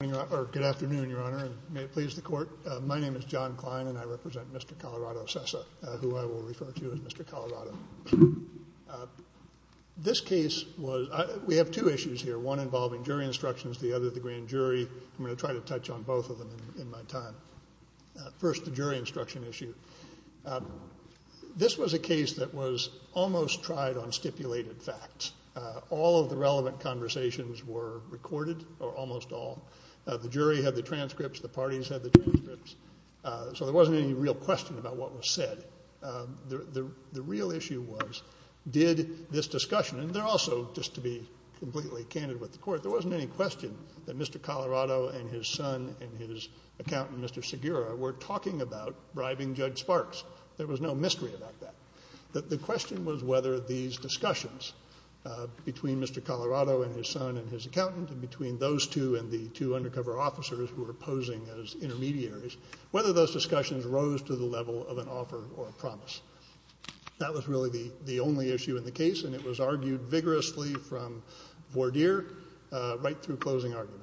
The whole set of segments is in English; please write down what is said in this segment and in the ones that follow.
Good afternoon, Your Honor, and may it please the court. My name is John Klein, and I represent Mr. Colorado Cessa, who I will refer to as Mr. Colorado. This case was, we have two issues here, one involving jury instructions, the other the grand jury. I'm going to try to touch on both of them in my time. First, the jury instruction issue. This was a case that was almost tried on stipulated facts. All of the relevant conversations were recorded, or almost all. The jury had the transcripts, the parties had the transcripts. So there wasn't any real question about what was said. The real issue was, did this discussion, and also, just to be completely candid with the court, there wasn't any question that Mr. Colorado and his son and his accountant, Mr. Segura, were talking about bribing Judge Sparks. There was no mystery about that. The question was whether these discussions between Mr. Colorado and his son and his accountant, and between those two and the two undercover officers who were posing as intermediaries, whether those discussions rose to the level of an offer or a promise. That was really the only issue in the case, and it was argued vigorously from Vordeer, right through closing argument.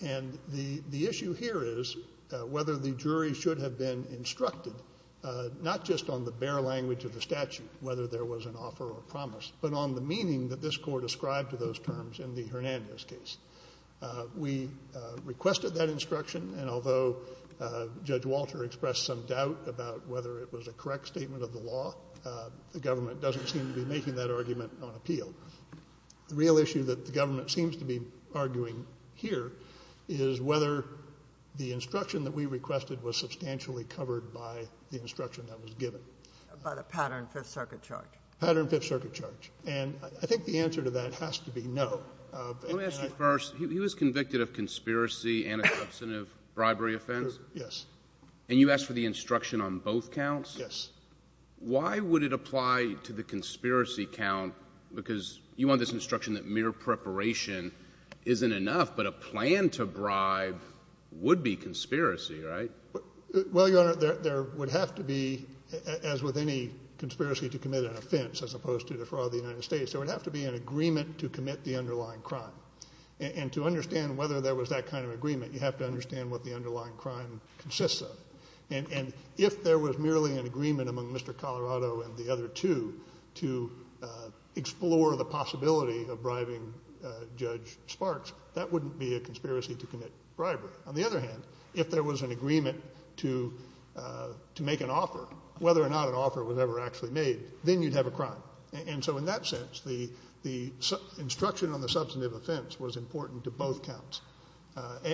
And the issue here is whether the jury should have been instructed, not just on the bare language of the statute, whether there was an offer or a promise, but on the meaning that this court ascribed to those terms in the Hernandez case. We requested that instruction, and although Judge Walter expressed some doubt about whether it was a correct statement of the law, the government doesn't seem to be making that argument on appeal. The real issue that the government seems to be arguing here is whether the instruction that we requested was substantially covered by the instruction that was given. By the Pattern Fifth Circuit charge. Pattern Fifth Circuit charge. And I think the answer to that has to be no. Let me ask you first, he was convicted of conspiracy and a substantive bribery offense? Yes. And you asked for the instruction on both counts? Yes. Why would it apply to the conspiracy count, because you want this instruction that mere preparation isn't enough, but a plan to bribe would be conspiracy, right? Well, Your Honor, there would have to be, as with any conspiracy to commit an offense, as opposed to the fraud of the United States, there would have to be an agreement to commit the underlying crime. And to understand whether there was that kind of agreement, you have to understand what the underlying crime consists of. And if there was merely an agreement among Mr. Colorado and the other two to explore the possibility of bribing Judge Sparks, that wouldn't be a conspiracy to commit bribery. On the other hand, if there was an agreement to make an offer, whether or not an offer was ever actually made, then you'd have a crime. And so in that sense, the instruction on the substantive offense was important to both counts.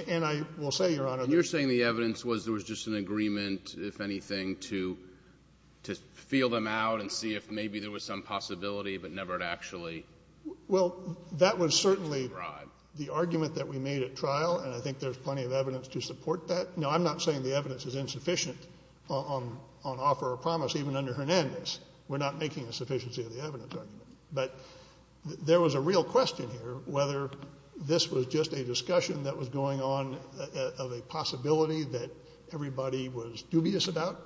And I will say, Your Honor- You're saying the evidence was there was just an agreement, if anything, to feel them out and see if maybe there was some possibility, but never to actually bribe. Well, that was certainly the argument that we made at trial. And I think there's plenty of evidence to support that. No, I'm not saying the evidence is insufficient on offer or promise, even under Hernandez. We're not making a sufficiency of the evidence argument. But there was a real question here, whether this was just a discussion that was going on of a possibility that everybody was dubious about,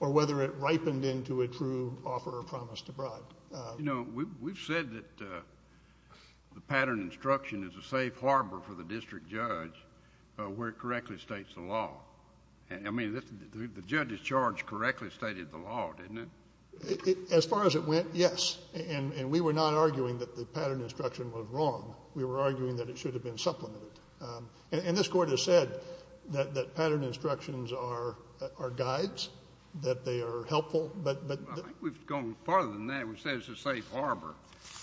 or whether it ripened into a true offer or promise to bribe. You know, we've said that the pattern instruction is a safe harbor for the district judge where it correctly states the law. And I mean, the judge's charge correctly stated the law, didn't it? As far as it went, yes. And we were not arguing that the pattern instruction was wrong. We were arguing that it should have been supplemented. And this court has said that pattern instructions are guides, that they are helpful, but- I think we've gone farther than that. We say it's a safe harbor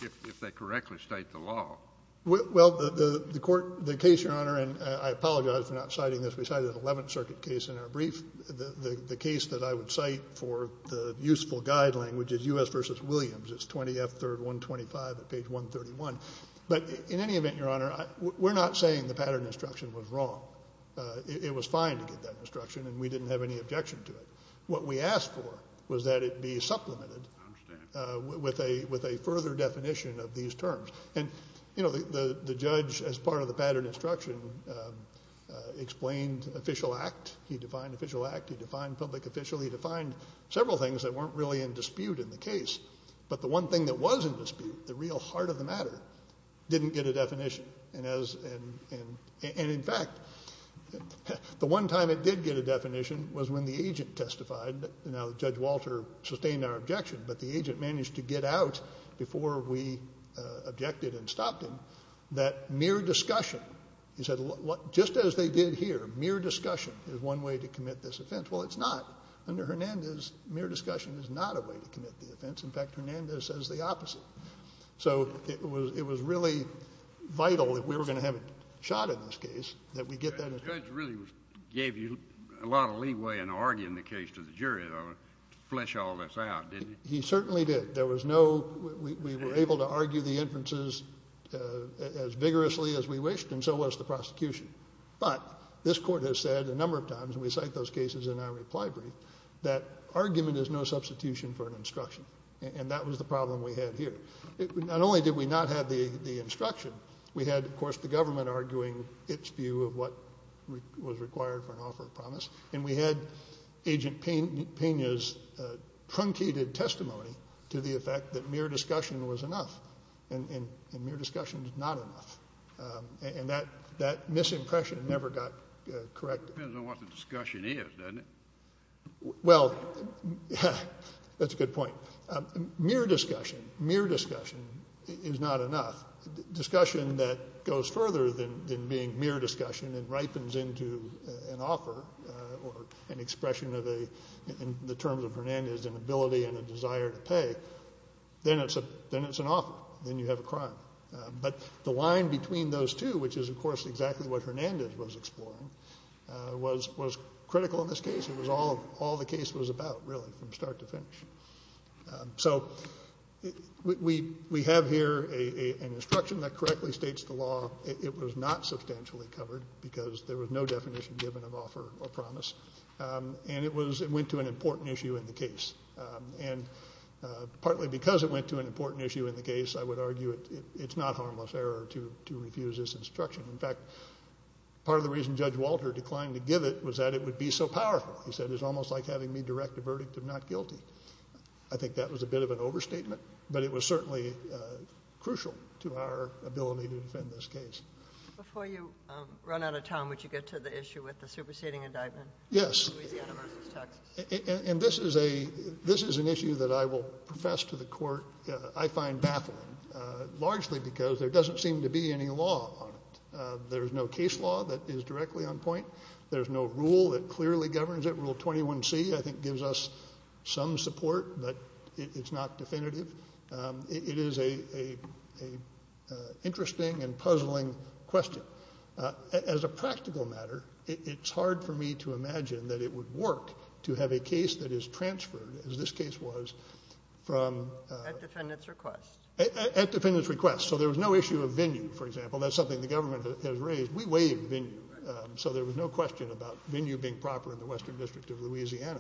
if they correctly state the law. Well, the court, the case, Your Honor, and I apologize for not citing this. We cited an 11th Circuit case in our brief. The case that I would cite for the useful guide language is U.S. v. Williams. It's 20 F. 3rd 125 at page 131. But in any event, Your Honor, we're not saying the pattern instruction was wrong. It was fine to get that instruction and we didn't have any objection to it. What we asked for was that it be supplemented with a further definition of these terms. And the judge, as part of the pattern instruction, explained official act. He defined official act, he defined public official, he defined several things that weren't really in dispute in the case. But the one thing that was in dispute, the real heart of the matter, didn't get a definition. And in fact, the one time it did get a definition was when the agent testified. Now, Judge Walter sustained our objection, but the agent managed to get out before we objected and stopped him, that mere discussion, he said, just as they did here, mere discussion is one way to commit this offense. Well, it's not. Under Hernandez, mere discussion is not a way to commit the offense. In fact, Hernandez says the opposite. So it was really vital if we were gonna have a shot in this case that we get that. in arguing the case to the jury to flesh all this out, didn't he? He certainly did. There was no, we were able to argue the inferences as vigorously as we wished, and so was the prosecution. But this court has said a number of times, and we cite those cases in our reply brief, that argument is no substitution for an instruction. And that was the problem we had here. Not only did we not have the instruction, we had, of course, the government arguing its view of what was required for an offer of promise. And we had Agent Pena's truncated testimony to the effect that mere discussion was enough, and mere discussion is not enough. And that misimpression never got corrected. Depends on what the discussion is, doesn't it? Well, that's a good point. Mere discussion, mere discussion is not enough. Discussion that goes further than being mere discussion and ripens into an offer, or an expression of a, in the terms of Hernandez, an ability and a desire to pay, then it's an offer, then you have a crime. But the line between those two, which is, of course, exactly what Hernandez was exploring, was critical in this case. It was all the case was about, really, from start to finish. So we have here an instruction that correctly states the law it was not substantially covered, because there was no definition given of offer or promise. And it went to an important issue in the case. And partly because it went to an important issue in the case, I would argue it's not harmless error to refuse this instruction. In fact, part of the reason Judge Walter declined to give it was that it would be so powerful. He said, it's almost like having me direct a verdict of not guilty. I think that was a bit of an overstatement, but it was certainly crucial to our ability to defend this case. Before you run out of time, would you get to the issue with the superseding indictment? Yes. Louisiana versus Texas. And this is an issue that I will profess to the court, I find baffling, largely because there doesn't seem to be any law on it. There's no case law that is directly on point. There's no rule that clearly governs it. Rule 21C, I think, gives us some support, but it's not definitive. It is a interesting and puzzling question. As a practical matter, it's hard for me to imagine that it would work to have a case that is transferred, as this case was, from- At defendant's request. At defendant's request. So there was no issue of venue, for example. That's something the government has raised. We waive venue, so there was no question about venue being proper in the Western District of Louisiana.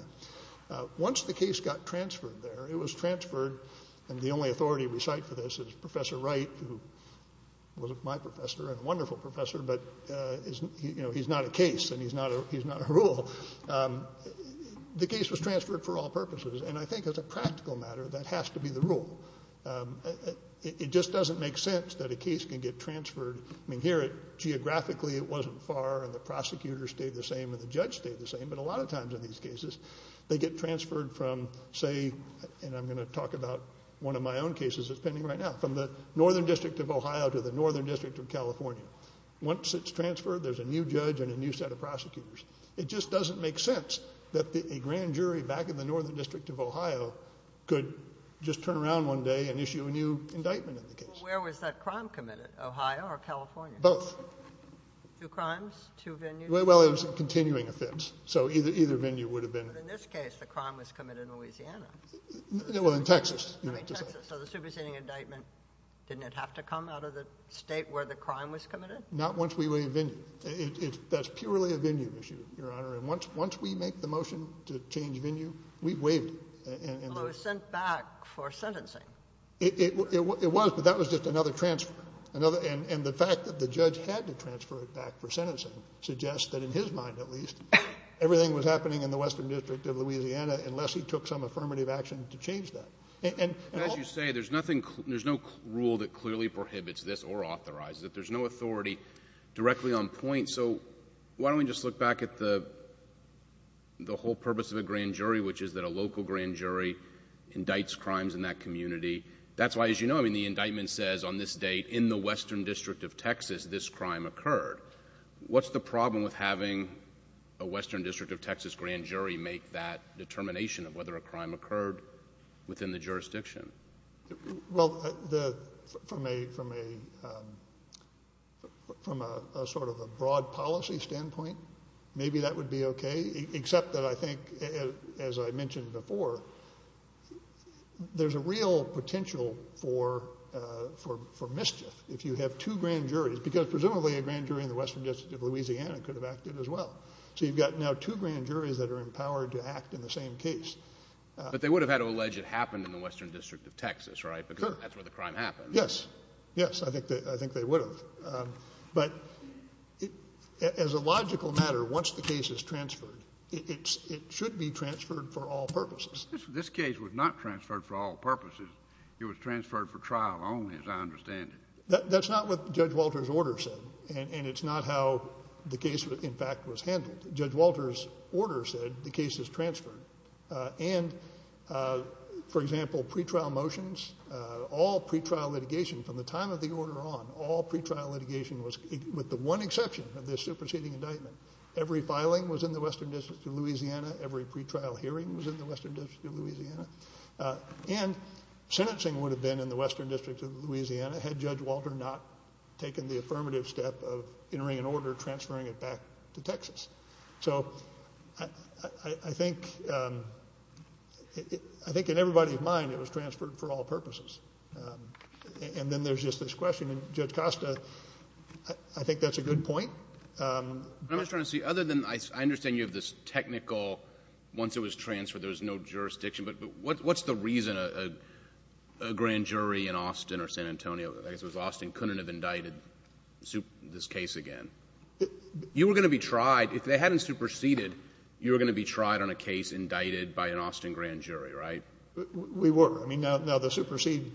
Once the case got transferred there, it was transferred, and the only authority we cite for this is Professor Wright, who was my professor and a wonderful professor, but he's not a case and he's not a rule. The case was transferred for all purposes, and I think as a practical matter, that has to be the rule. It just doesn't make sense that a case can get transferred. I mean, here, geographically, it wasn't far, and the prosecutor stayed the same and the judge stayed the same, but a lot of times in these cases, they get transferred from, say, and I'm gonna talk about one of my own cases that's pending right now, from the Northern District of Ohio to the Northern District of California. Once it's transferred, there's a new judge and a new set of prosecutors. It just doesn't make sense that a grand jury back in the Northern District of Ohio could just turn around one day and issue a new indictment in the case. Where was that crime committed, Ohio or California? Both. Two crimes, two venues? Well, it was a continuing offense, so either venue would have been. But in this case, the crime was committed in Louisiana. No, well, in Texas. I mean, Texas, so the superseding indictment, didn't it have to come out of the state where the crime was committed? Not once we waived venue. That's purely a venue issue, Your Honor, and once we make the motion to change venue, we waived it. Well, it was sent back for sentencing. It was, but that was just another transfer, and the fact that the judge had to transfer it back for sentencing suggests that, in his mind at least, everything was happening in the Western District of Louisiana unless he took some affirmative action to change that. And as you say, there's no rule that clearly prohibits this or authorizes it. There's no authority directly on point, so why don't we just look back at the whole purpose of a grand jury, which is that a local grand jury indicts crimes in that community. That's why, as you know, I mean, the indictment says on this date, in the Western District of Texas, this crime occurred. What's the problem with having a Western District of Texas grand jury make that determination of whether a crime occurred within the jurisdiction? Well, from a sort of a broad policy standpoint, maybe that would be okay, except that I think, as I mentioned before, there's a real potential for mischief if you have two grand juries, because presumably a grand jury in the Western District of Louisiana could have acted as well. So you've got now two grand juries that are empowered to act in the same case. But they would have had to allege it happened in the Western District of Texas, right? Because that's where the crime happened. Yes, yes, I think they would have. But as a logical matter, once the case is transferred, it should be transferred for all purposes. This case was not transferred for all purposes. It was transferred for trial only, as I understand it. That's not what Judge Walter's order said, and it's not how the case, in fact, was handled. Judge Walter's order said the case is transferred. And, for example, pretrial motions, all pretrial litigation from the time of the order on, all pretrial litigation was, with the one exception of this superseding indictment, every filing was in the Western District of Louisiana, every pretrial hearing was in the Western District of Louisiana, and sentencing would have been in the Western District of Louisiana had Judge Walter not taken the affirmative step of entering an order transferring it back to Texas. So I think, I think in everybody's mind, it was transferred for all purposes. And then there's just this question, and Judge Costa, I think that's a good point. But I'm just trying to see, other than, I understand you have this technical, once it was transferred, there was no jurisdiction, but what's the reason a grand jury in Austin or San Antonio, I guess it was Austin, couldn't have indicted this case again? You were gonna be tried, if they hadn't superseded, you were gonna be tried on a case indicted by an Austin grand jury, right? We were, I mean, now the superseding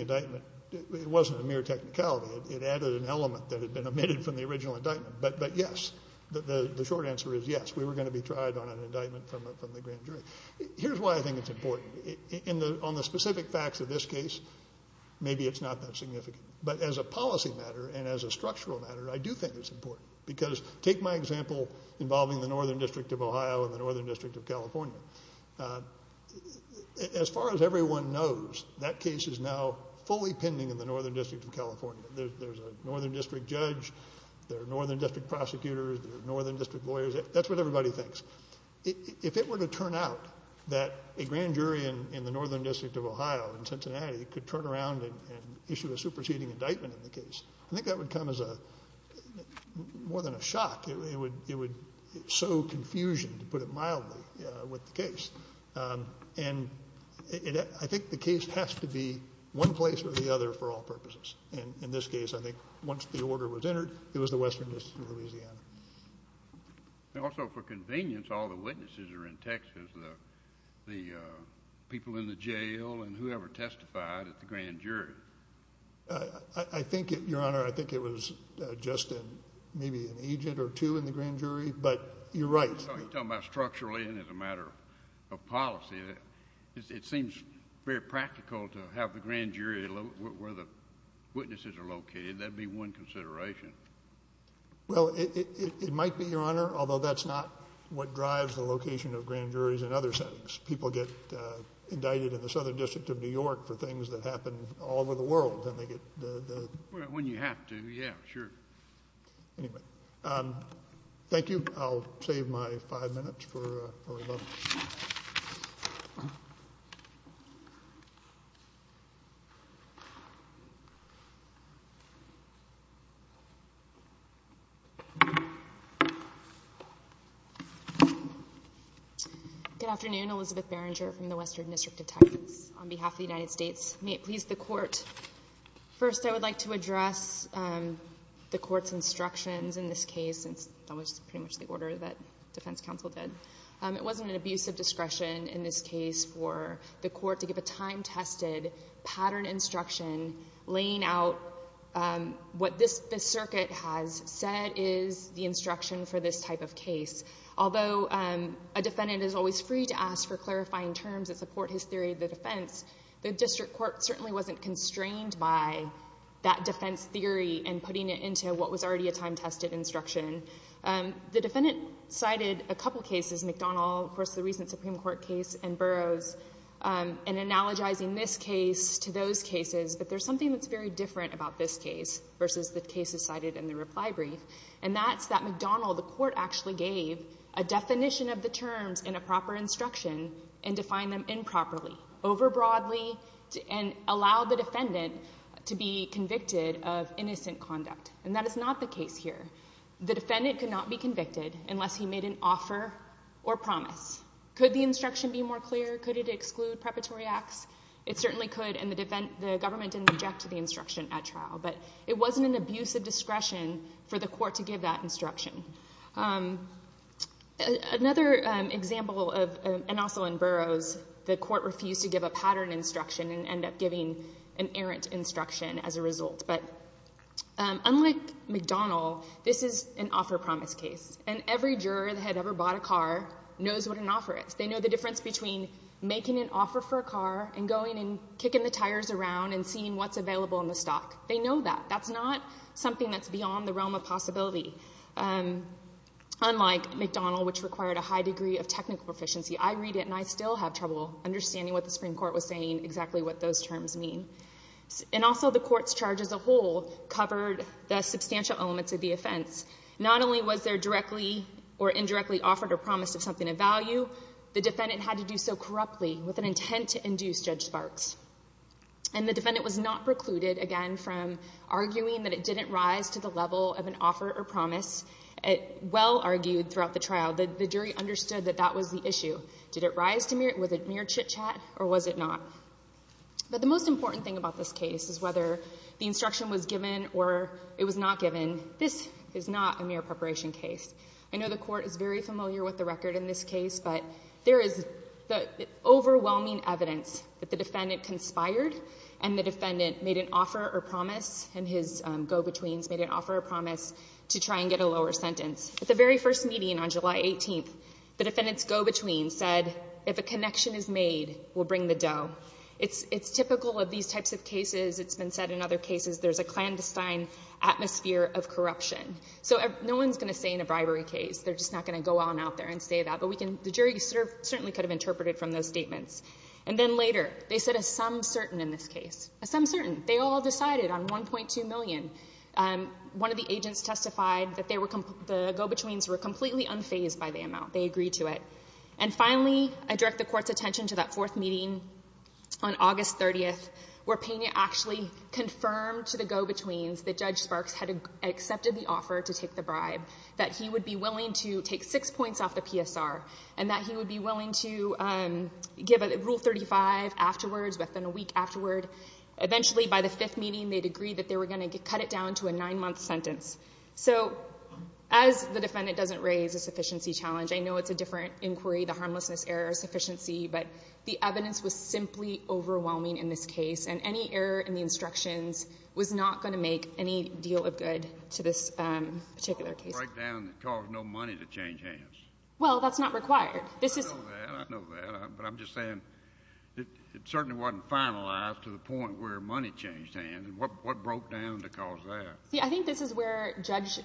indictment, it wasn't a mere technicality, it added an element that had been omitted from the original indictment. But yes, the short answer is yes, we were gonna be tried on an indictment from the grand jury. Here's why I think it's important. On the specific facts of this case, maybe it's not that significant. But as a policy matter, and as a structural matter, I do think it's important, because take my example involving the Northern District of Ohio and the Northern District of California. As far as everyone knows, that case is now fully pending in the Northern District of California. There's a Northern District judge, there are Northern District prosecutors, there are Northern District lawyers, that's what everybody thinks. If it were to turn out that a grand jury in the Northern District of Ohio, in Cincinnati, could turn around and issue a superseding indictment in the case, I think that would come as more than a shock. It would sow confusion, to put it mildly, with the case. And I think the case has to be one place or the other for all purposes. And in this case, I think once the order was entered, it was the Western District of Louisiana. Also, for convenience, all the witnesses are in Texas. There's the people in the jail and whoever testified at the grand jury. I think, Your Honor, I think it was just maybe an agent or two in the grand jury, but you're right. So you're talking about structurally and as a matter of policy, it seems very practical to have the grand jury where the witnesses are located. That'd be one consideration. Well, it might be, Your Honor, although that's not what drives the location of grand juries in other settings. People get indicted in the Southern District of New York for things that happen all over the world, then they get the- When you have to, yeah, sure. Anyway, thank you. I'll save my five minutes for a moment. Good afternoon, Elizabeth Barringer from the Western District of Texas. On behalf of the United States, may it please the court. First, I would like to address the court's instructions in this case, since that was pretty much the order that defense counsel did. It wasn't an abuse of discretion in this case for the court to give a time-tested pattern instruction laying out what this circuit has said is the instruction for this type of case. Although a defendant is always free to ask for clarifying terms that support his theory of the defense, the district court certainly wasn't constrained by that defense theory and putting it into what was already a time-tested instruction. The defendant cited a couple cases, McDonald, of course, the recent Supreme Court case, and Burroughs, and analogizing this case to those cases, but there's something that's very different about this case versus the cases cited in the reply brief, and that's that McDonald, the court actually gave a definition of the terms in a proper instruction and defined them improperly, over-broadly, and allowed the defendant to be convicted of innocent conduct, and that is not the case here. The defendant could not be convicted unless he made an offer or promise. Could the instruction be more clear? Could it exclude preparatory acts? It certainly could, and the government didn't object to the instruction at trial, but it wasn't an abuse of discretion for the court to give that instruction. Another example, and also in Burroughs, the court refused to give a pattern instruction and ended up giving an errant instruction as a result, but unlike McDonald, this is an offer-promise case, and every juror that had ever bought a car knows what an offer is. They know the difference between making an offer for a car and going and kicking the tires around and seeing what's available in the stock. They know that, that's not something that's beyond the realm of possibility, unlike McDonald, which required a high degree of technical proficiency. I read it and I still have trouble understanding what the Supreme Court was saying, exactly what those terms mean, and also the court's charge as a whole covered the substantial elements of the offense. Not only was there directly or indirectly offered or promised of something of value, the defendant had to do so corruptly with an intent to induce Judge Sparks, and the defendant was not precluded, again, from arguing that it didn't rise to the level of an offer or promise. It well argued throughout the trial that the jury understood that that was the issue. Did it rise to mere chit-chat or was it not? But the most important thing about this case is whether the instruction was given or it was not given, this is not a mere preparation case. I know the court is very familiar with the record in this case, but there is the overwhelming evidence that the defendant conspired and the defendant made an offer or promise, and his go-betweens made an offer or promise to try and get a lower sentence. At the very first meeting on July 18th, the defendant's go-between said, if a connection is made, we'll bring the dough. It's typical of these types of cases, it's been said in other cases, there's a clandestine atmosphere of corruption. So no one's gonna say in a bribery case, they're just not gonna go on out there and say that, but the jury certainly could have interpreted from those statements. And then later, they said a some certain in this case, a some certain, they all decided on 1.2 million. One of the agents testified that the go-betweens were completely unfazed by the amount, they agreed to it. And finally, I direct the court's attention to that fourth meeting on August 30th, where Pena actually confirmed to the go-betweens that Judge Sparks had accepted the offer to take the bribe, that he would be willing to take six points off the PSR, and that he would be willing to give a rule 35 afterwards, within a week afterward. Eventually, by the fifth meeting, they'd agreed that they were gonna cut it down to a nine-month sentence. So as the defendant doesn't raise a sufficiency challenge, I know it's a different inquiry, the harmlessness error of sufficiency, but the evidence was simply overwhelming in this case, and any error in the instructions was not gonna make any deal of good to this particular case. A breakdown that caused no money to change hands. Well, that's not required. I know that, I know that, but I'm just saying, it certainly wasn't finalized to the point where money changed hands, and what broke down to cause that? Yeah, I think this is where Judge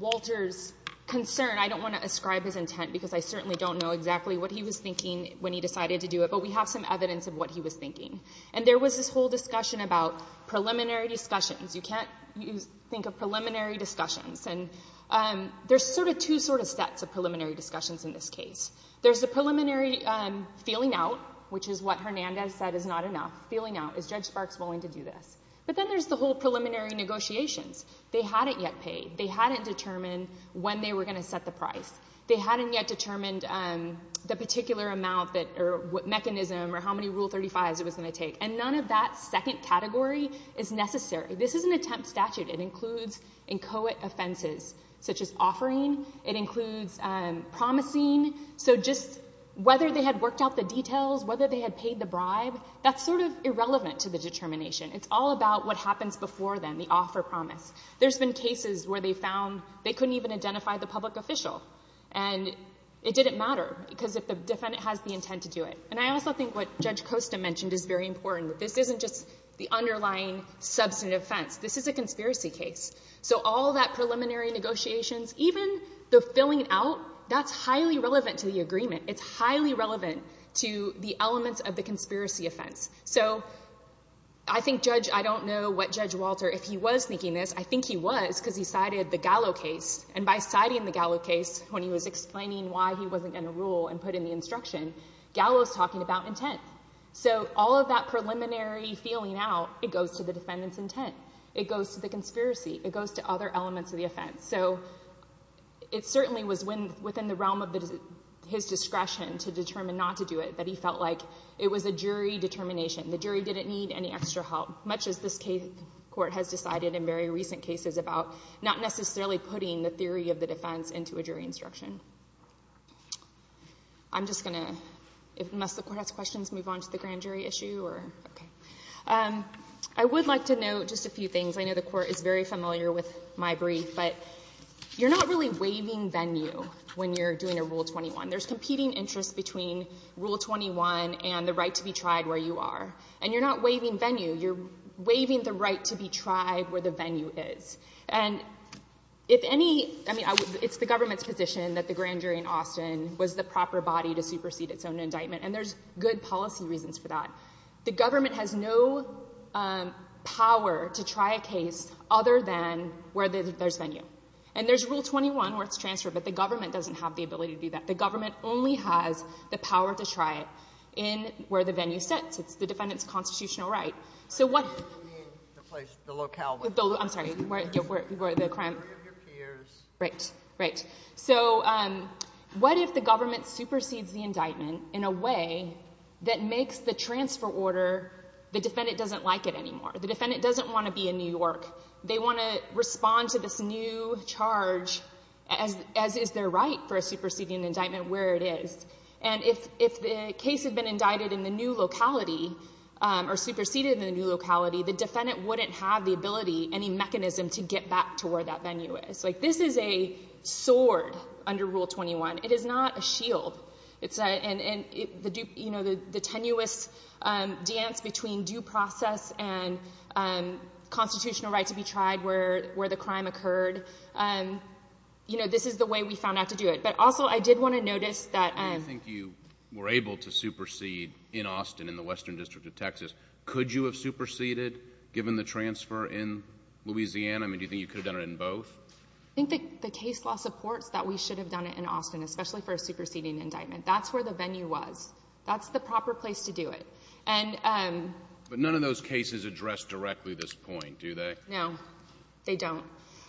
Walter's concern, I don't wanna ascribe his intent, because I certainly don't know exactly what he was thinking when he decided to do it, but we have some evidence of what he was thinking. And there was this whole discussion about preliminary discussions. You can't think of preliminary discussions, and there's sort of two sort of sets of preliminary discussions in this case. There's the preliminary feeling out, which is what Hernandez said is not enough. Feeling out, is Judge Sparks willing to do this? But then there's the whole preliminary negotiations. They hadn't yet paid. They hadn't determined when they were gonna set the price. They hadn't yet determined the particular amount, or mechanism, or how many Rule 35s it was gonna take. And none of that second category is necessary. This is an attempt statute. It includes inchoate offenses, such as offering. It includes promising. So just whether they had worked out the details, whether they had paid the bribe, that's sort of irrelevant to the determination. It's all about what happens before then, the offer promise. There's been cases where they found they couldn't even identify the public official, and it didn't matter, because if the defendant has the intent to do it. And I also think what Judge Costa mentioned is very important. This isn't just the underlying substantive offense. This is a conspiracy case. So all that preliminary negotiations, even the filling out, that's highly relevant to the agreement. It's highly relevant to the elements of the conspiracy offense. So I think Judge, I don't know what Judge Walter, if he was thinking this, I think he was, because he cited the Gallo case. And by citing the Gallo case, when he was explaining why he wasn't gonna rule and put in the instruction, Gallo's talking about intent. So all of that preliminary filling out, it goes to the defendant's intent. It goes to the conspiracy. It goes to other elements of the offense. So it certainly was within the realm of his discretion to determine not to do it, that he felt like it was a jury determination. The jury didn't need any extra help, much as this court has decided in very recent cases about not necessarily putting the theory of the defense into a jury instruction. I'm just gonna, must the court ask questions, move on to the grand jury issue, or? Okay. I would like to note just a few things. I know the court is very familiar with my brief, but you're not really waiving venue when you're doing a Rule 21. There's competing interest between Rule 21 and the right to be tried where you are. And you're not waiving venue, you're waiving the right to be tried where the venue is. And if any, I mean, it's the government's position that the grand jury in Austin was the proper body to supersede its own indictment. And there's good policy reasons for that. The government has no power to try a case other than where there's venue. And there's Rule 21 where it's transferred, but the government doesn't have the ability to do that. The government only has the power to try it in where the venue sits. It's the defendant's constitutional right. So what- I don't mean the place, the locale. I'm sorry, where the crime- The jury of your peers. Right, right. So what if the government supersedes the indictment in a way that makes the transfer order, the defendant doesn't like it anymore. The defendant doesn't want to be in New York. They want to respond to this new charge as is their right for a superseding indictment where it is. And if the case had been indicted in the new locality or superseded in the new locality, the defendant wouldn't have the ability, any mechanism to get back to where that venue is. Like this is a sword under Rule 21. It is not a shield. It's a, and the tenuous dance between due process and constitutional right to be tried where the crime occurred. You know, this is the way we found out to do it. But also I did want to notice that- Do you think you were able to supersede in Austin, in the Western District of Texas? Could you have superseded given the transfer in Louisiana? I mean, do you think you could have done it in both? I think the case law supports that we should have done it in Austin, especially for a superseding indictment. That's where the venue was. That's the proper place to do it. And- But none of those cases address directly this point, do they? No, they don't.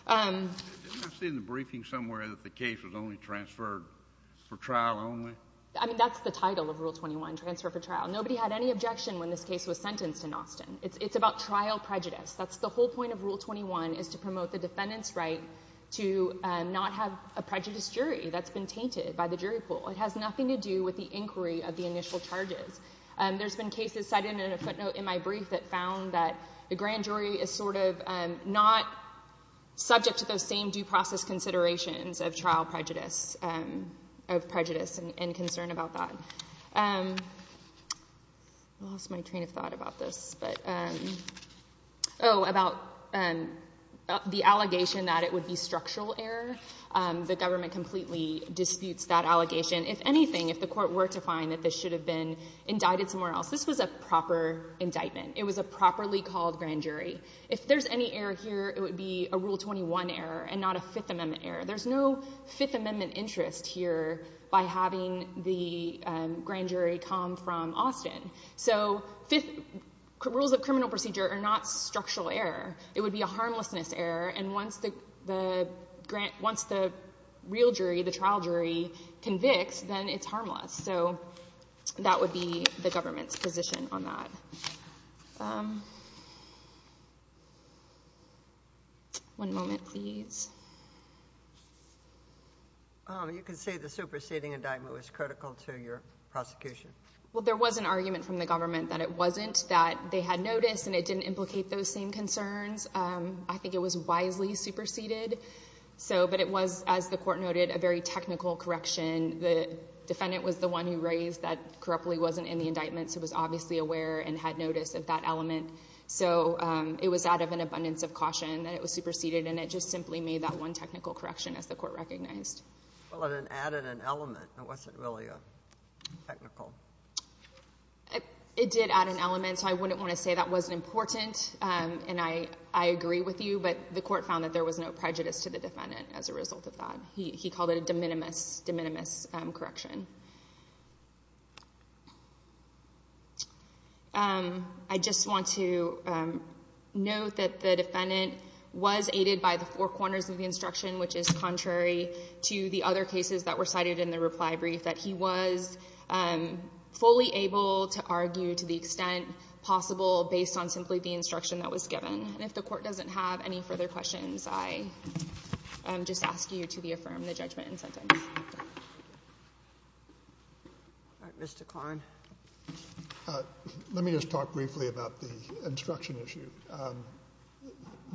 Didn't I see in the briefing somewhere that the case was only transferred for trial only? I mean, that's the title of Rule 21, transfer for trial. Nobody had any objection when this case was sentenced in Austin. It's about trial prejudice. That's the whole point of Rule 21, is to promote the defendant's right to not have a prejudice jury that's been tainted by the jury pool. It has nothing to do with the inquiry of the initial charges. There's been cases cited in a footnote in my brief that found that the grand jury is sort of not subject to those same due process considerations of trial prejudice, of prejudice and concern about that. Lost my train of thought about this, but... Oh, about the allegation that it would be structural error. The government completely disputes that allegation. If anything, if the court were to find that this should have been indicted somewhere else, this was a proper indictment. It was a properly called grand jury. If there's any error here, it would be a Rule 21 error and not a Fifth Amendment error. There's no Fifth Amendment interest here by having the grand jury come from Austin. So rules of criminal procedure are not structural error. It would be a harmlessness error. And once the real jury, the trial jury, convicts, then it's harmless. So that would be the government's position on that. One moment, please. You can say the superseding indictment was critical to your prosecution. Well, there was an argument from the government that it wasn't, that they had noticed and it didn't implicate those same concerns. I think it was wisely superseded. So, but it was, as the court noted, a very technical correction. The defendant was the one who raised that Coropoly wasn't in the indictment. So it was obviously aware and had notice of that element. So it was out of an abundance of caution that it was superseded and it just simply made that one technical correction as the court recognized. Well, it added an element. It wasn't really a technical. It did add an element. So I wouldn't want to say that wasn't important. And I agree with you, but the court found that there was no prejudice to the defendant as a result of that. He called it a de minimis correction. I just want to note that the defendant was aided by the four corners of the instruction, which is contrary to the other cases that were cited in the reply brief, that he was fully able to argue to the extent possible based on simply the instruction that was given. And if the court doesn't have any further questions, I just ask you to be affirmed in the judgment and sentence. All right, Mr. Kline. Let me just talk briefly about the instruction issue.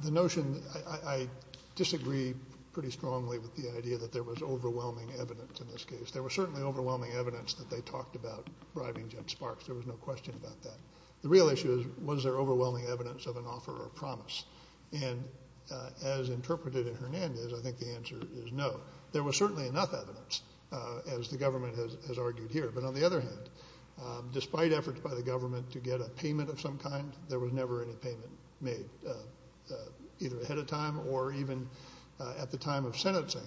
The notion, I disagree pretty strongly with the idea that there was overwhelming evidence in this case. There was certainly overwhelming evidence that they talked about bribing Judge Sparks. There was no question about that. The real issue is, was there overwhelming evidence of an offer or promise? And as interpreted in Hernandez, I think the answer is no. There was certainly enough evidence as the government has argued here. But on the other hand, despite efforts by the government to get a payment of some kind, there was never any payment made either ahead of time or even at the time of sentencing.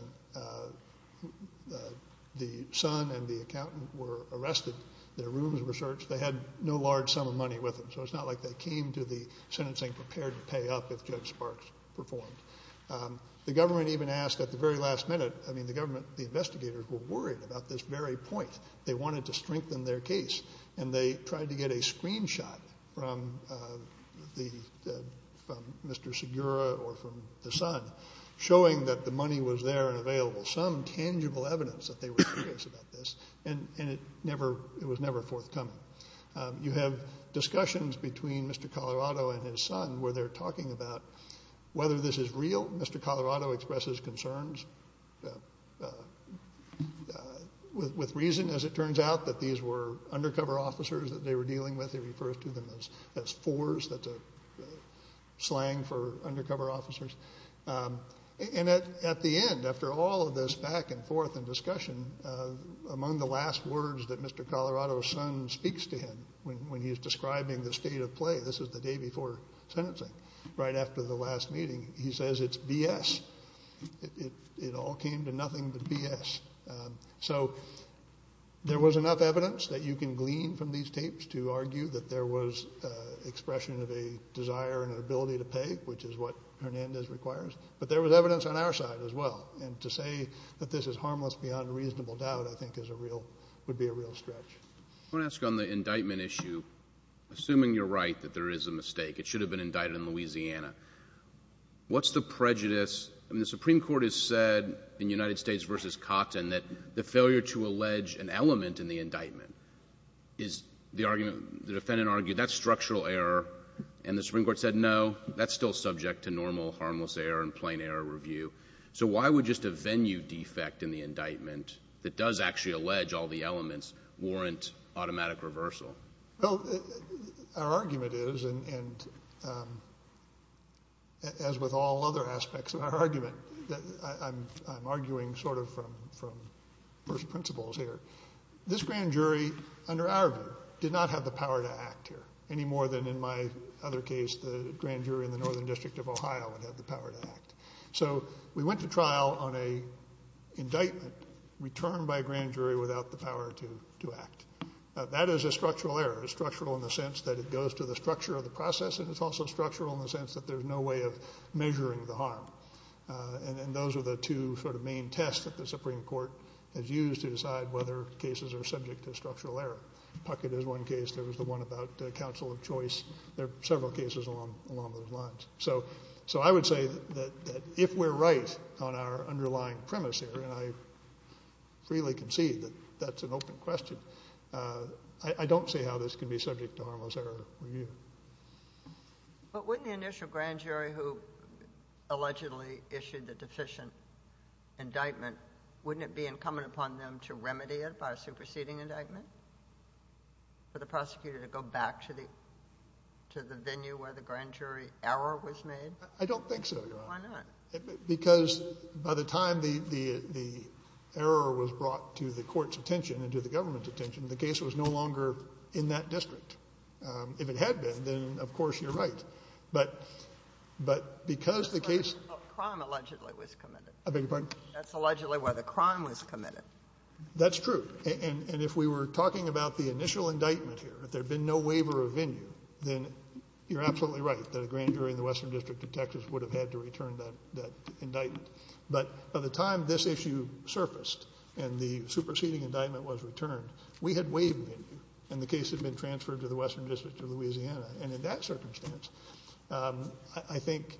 The son and the accountant were arrested. Their rooms were searched. They had no large sum of money with them. So it's not like they came to the sentencing prepared to pay up if Judge Sparks performed. The government even asked at the very last minute, I mean, the government, the investigators were worried about this very point. They wanted to strengthen their case. And they tried to get a screenshot from Mr. Segura or from the son showing that the money was there and available. Some tangible evidence that they were curious about this. And it was never forthcoming. You have discussions between Mr. Colorado and his son where they're talking about whether this is real. Mr. Colorado expresses concerns with reason as it turns out that these were undercover officers that they were dealing with. He refers to them as fours. That's a slang for undercover officers. And at the end, after all of this back and forth and discussion, among the last words that Mr. Colorado's son speaks to him when he's describing the state of play, this is the day before sentencing, right after the last meeting, he says, it's BS. It all came to nothing but BS. So there was enough evidence that you can glean from these tapes to argue that there was expression of a desire and an ability to pay, which is what Hernandez requires. But there was evidence on our side as well. And to say that this is harmless beyond reasonable doubt, I think would be a real stretch. I wanna ask on the indictment issue, assuming you're right that there is a mistake, it should have been indicted in Louisiana. What's the prejudice? I mean, the Supreme Court has said in United States versus Cotton that the failure to allege an element in the indictment is the argument, the defendant argued, that's structural error. And the Supreme Court said, no, that's still subject to normal harmless error and plain error review. So why would just a venue defect in the indictment that does actually allege all the elements warrant automatic reversal? Well, our argument is, and as with all other aspects of our argument, I'm arguing sort of from first principles here. This grand jury, under our view, did not have the power to act here any more than in my other case, the grand jury in the Northern District of Ohio would have the power to act. So we went to trial on a indictment returned by a grand jury without the power to act. That is a structural error, structural in the sense that it goes to the structure of the process, and it's also structural in the sense that there's no way of measuring the harm. And those are the two sort of main tests that the Supreme Court has used to decide whether cases are subject to structural error. Puckett is one case, there was the one about counsel of choice. There are several cases along those lines. So I would say that if we're right on our underlying premise here, and I freely concede that that's an open question, I don't see how this can be subject to harmless error review. But wouldn't the initial grand jury who allegedly issued the deficient indictment, wouldn't it be incumbent upon them to remedy it by a superseding indictment? For the prosecutor to go back to the venue where the grand jury error was made? I don't think so. Why not? Because by the time the error was brought to the court's attention and to the government's attention, the case was no longer in that district. If it had been, then of course you're right. But because the case- Crime allegedly was committed. I beg your pardon? That's allegedly where the crime was committed. That's true. And if we were talking about the initial indictment here, if there'd been no waiver of venue, then you're absolutely right that a grand jury in the Western District of Texas would have had to return that indictment. But by the time this issue surfaced and the superseding indictment was returned, we had waived the venue, and the case had been transferred to the Western District of Louisiana. And in that circumstance, I think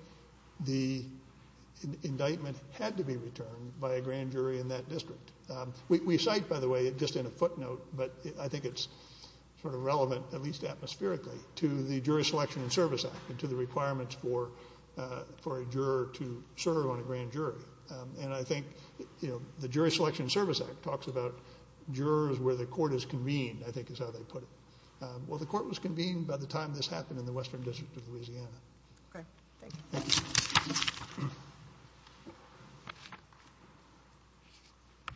the indictment had to be returned by a grand jury in that district. We cite, by the way, just in a footnote, but I think it's sort of relevant, at least atmospherically, to the Jury Selection and Service Act and to the requirements for a juror to serve on a grand jury. And I think the Jury Selection and Service Act talks about jurors where the court is convened, I think is how they put it. Well, the court was convened by the time this happened in the Western District of Louisiana. Okay, thank you. Thank you.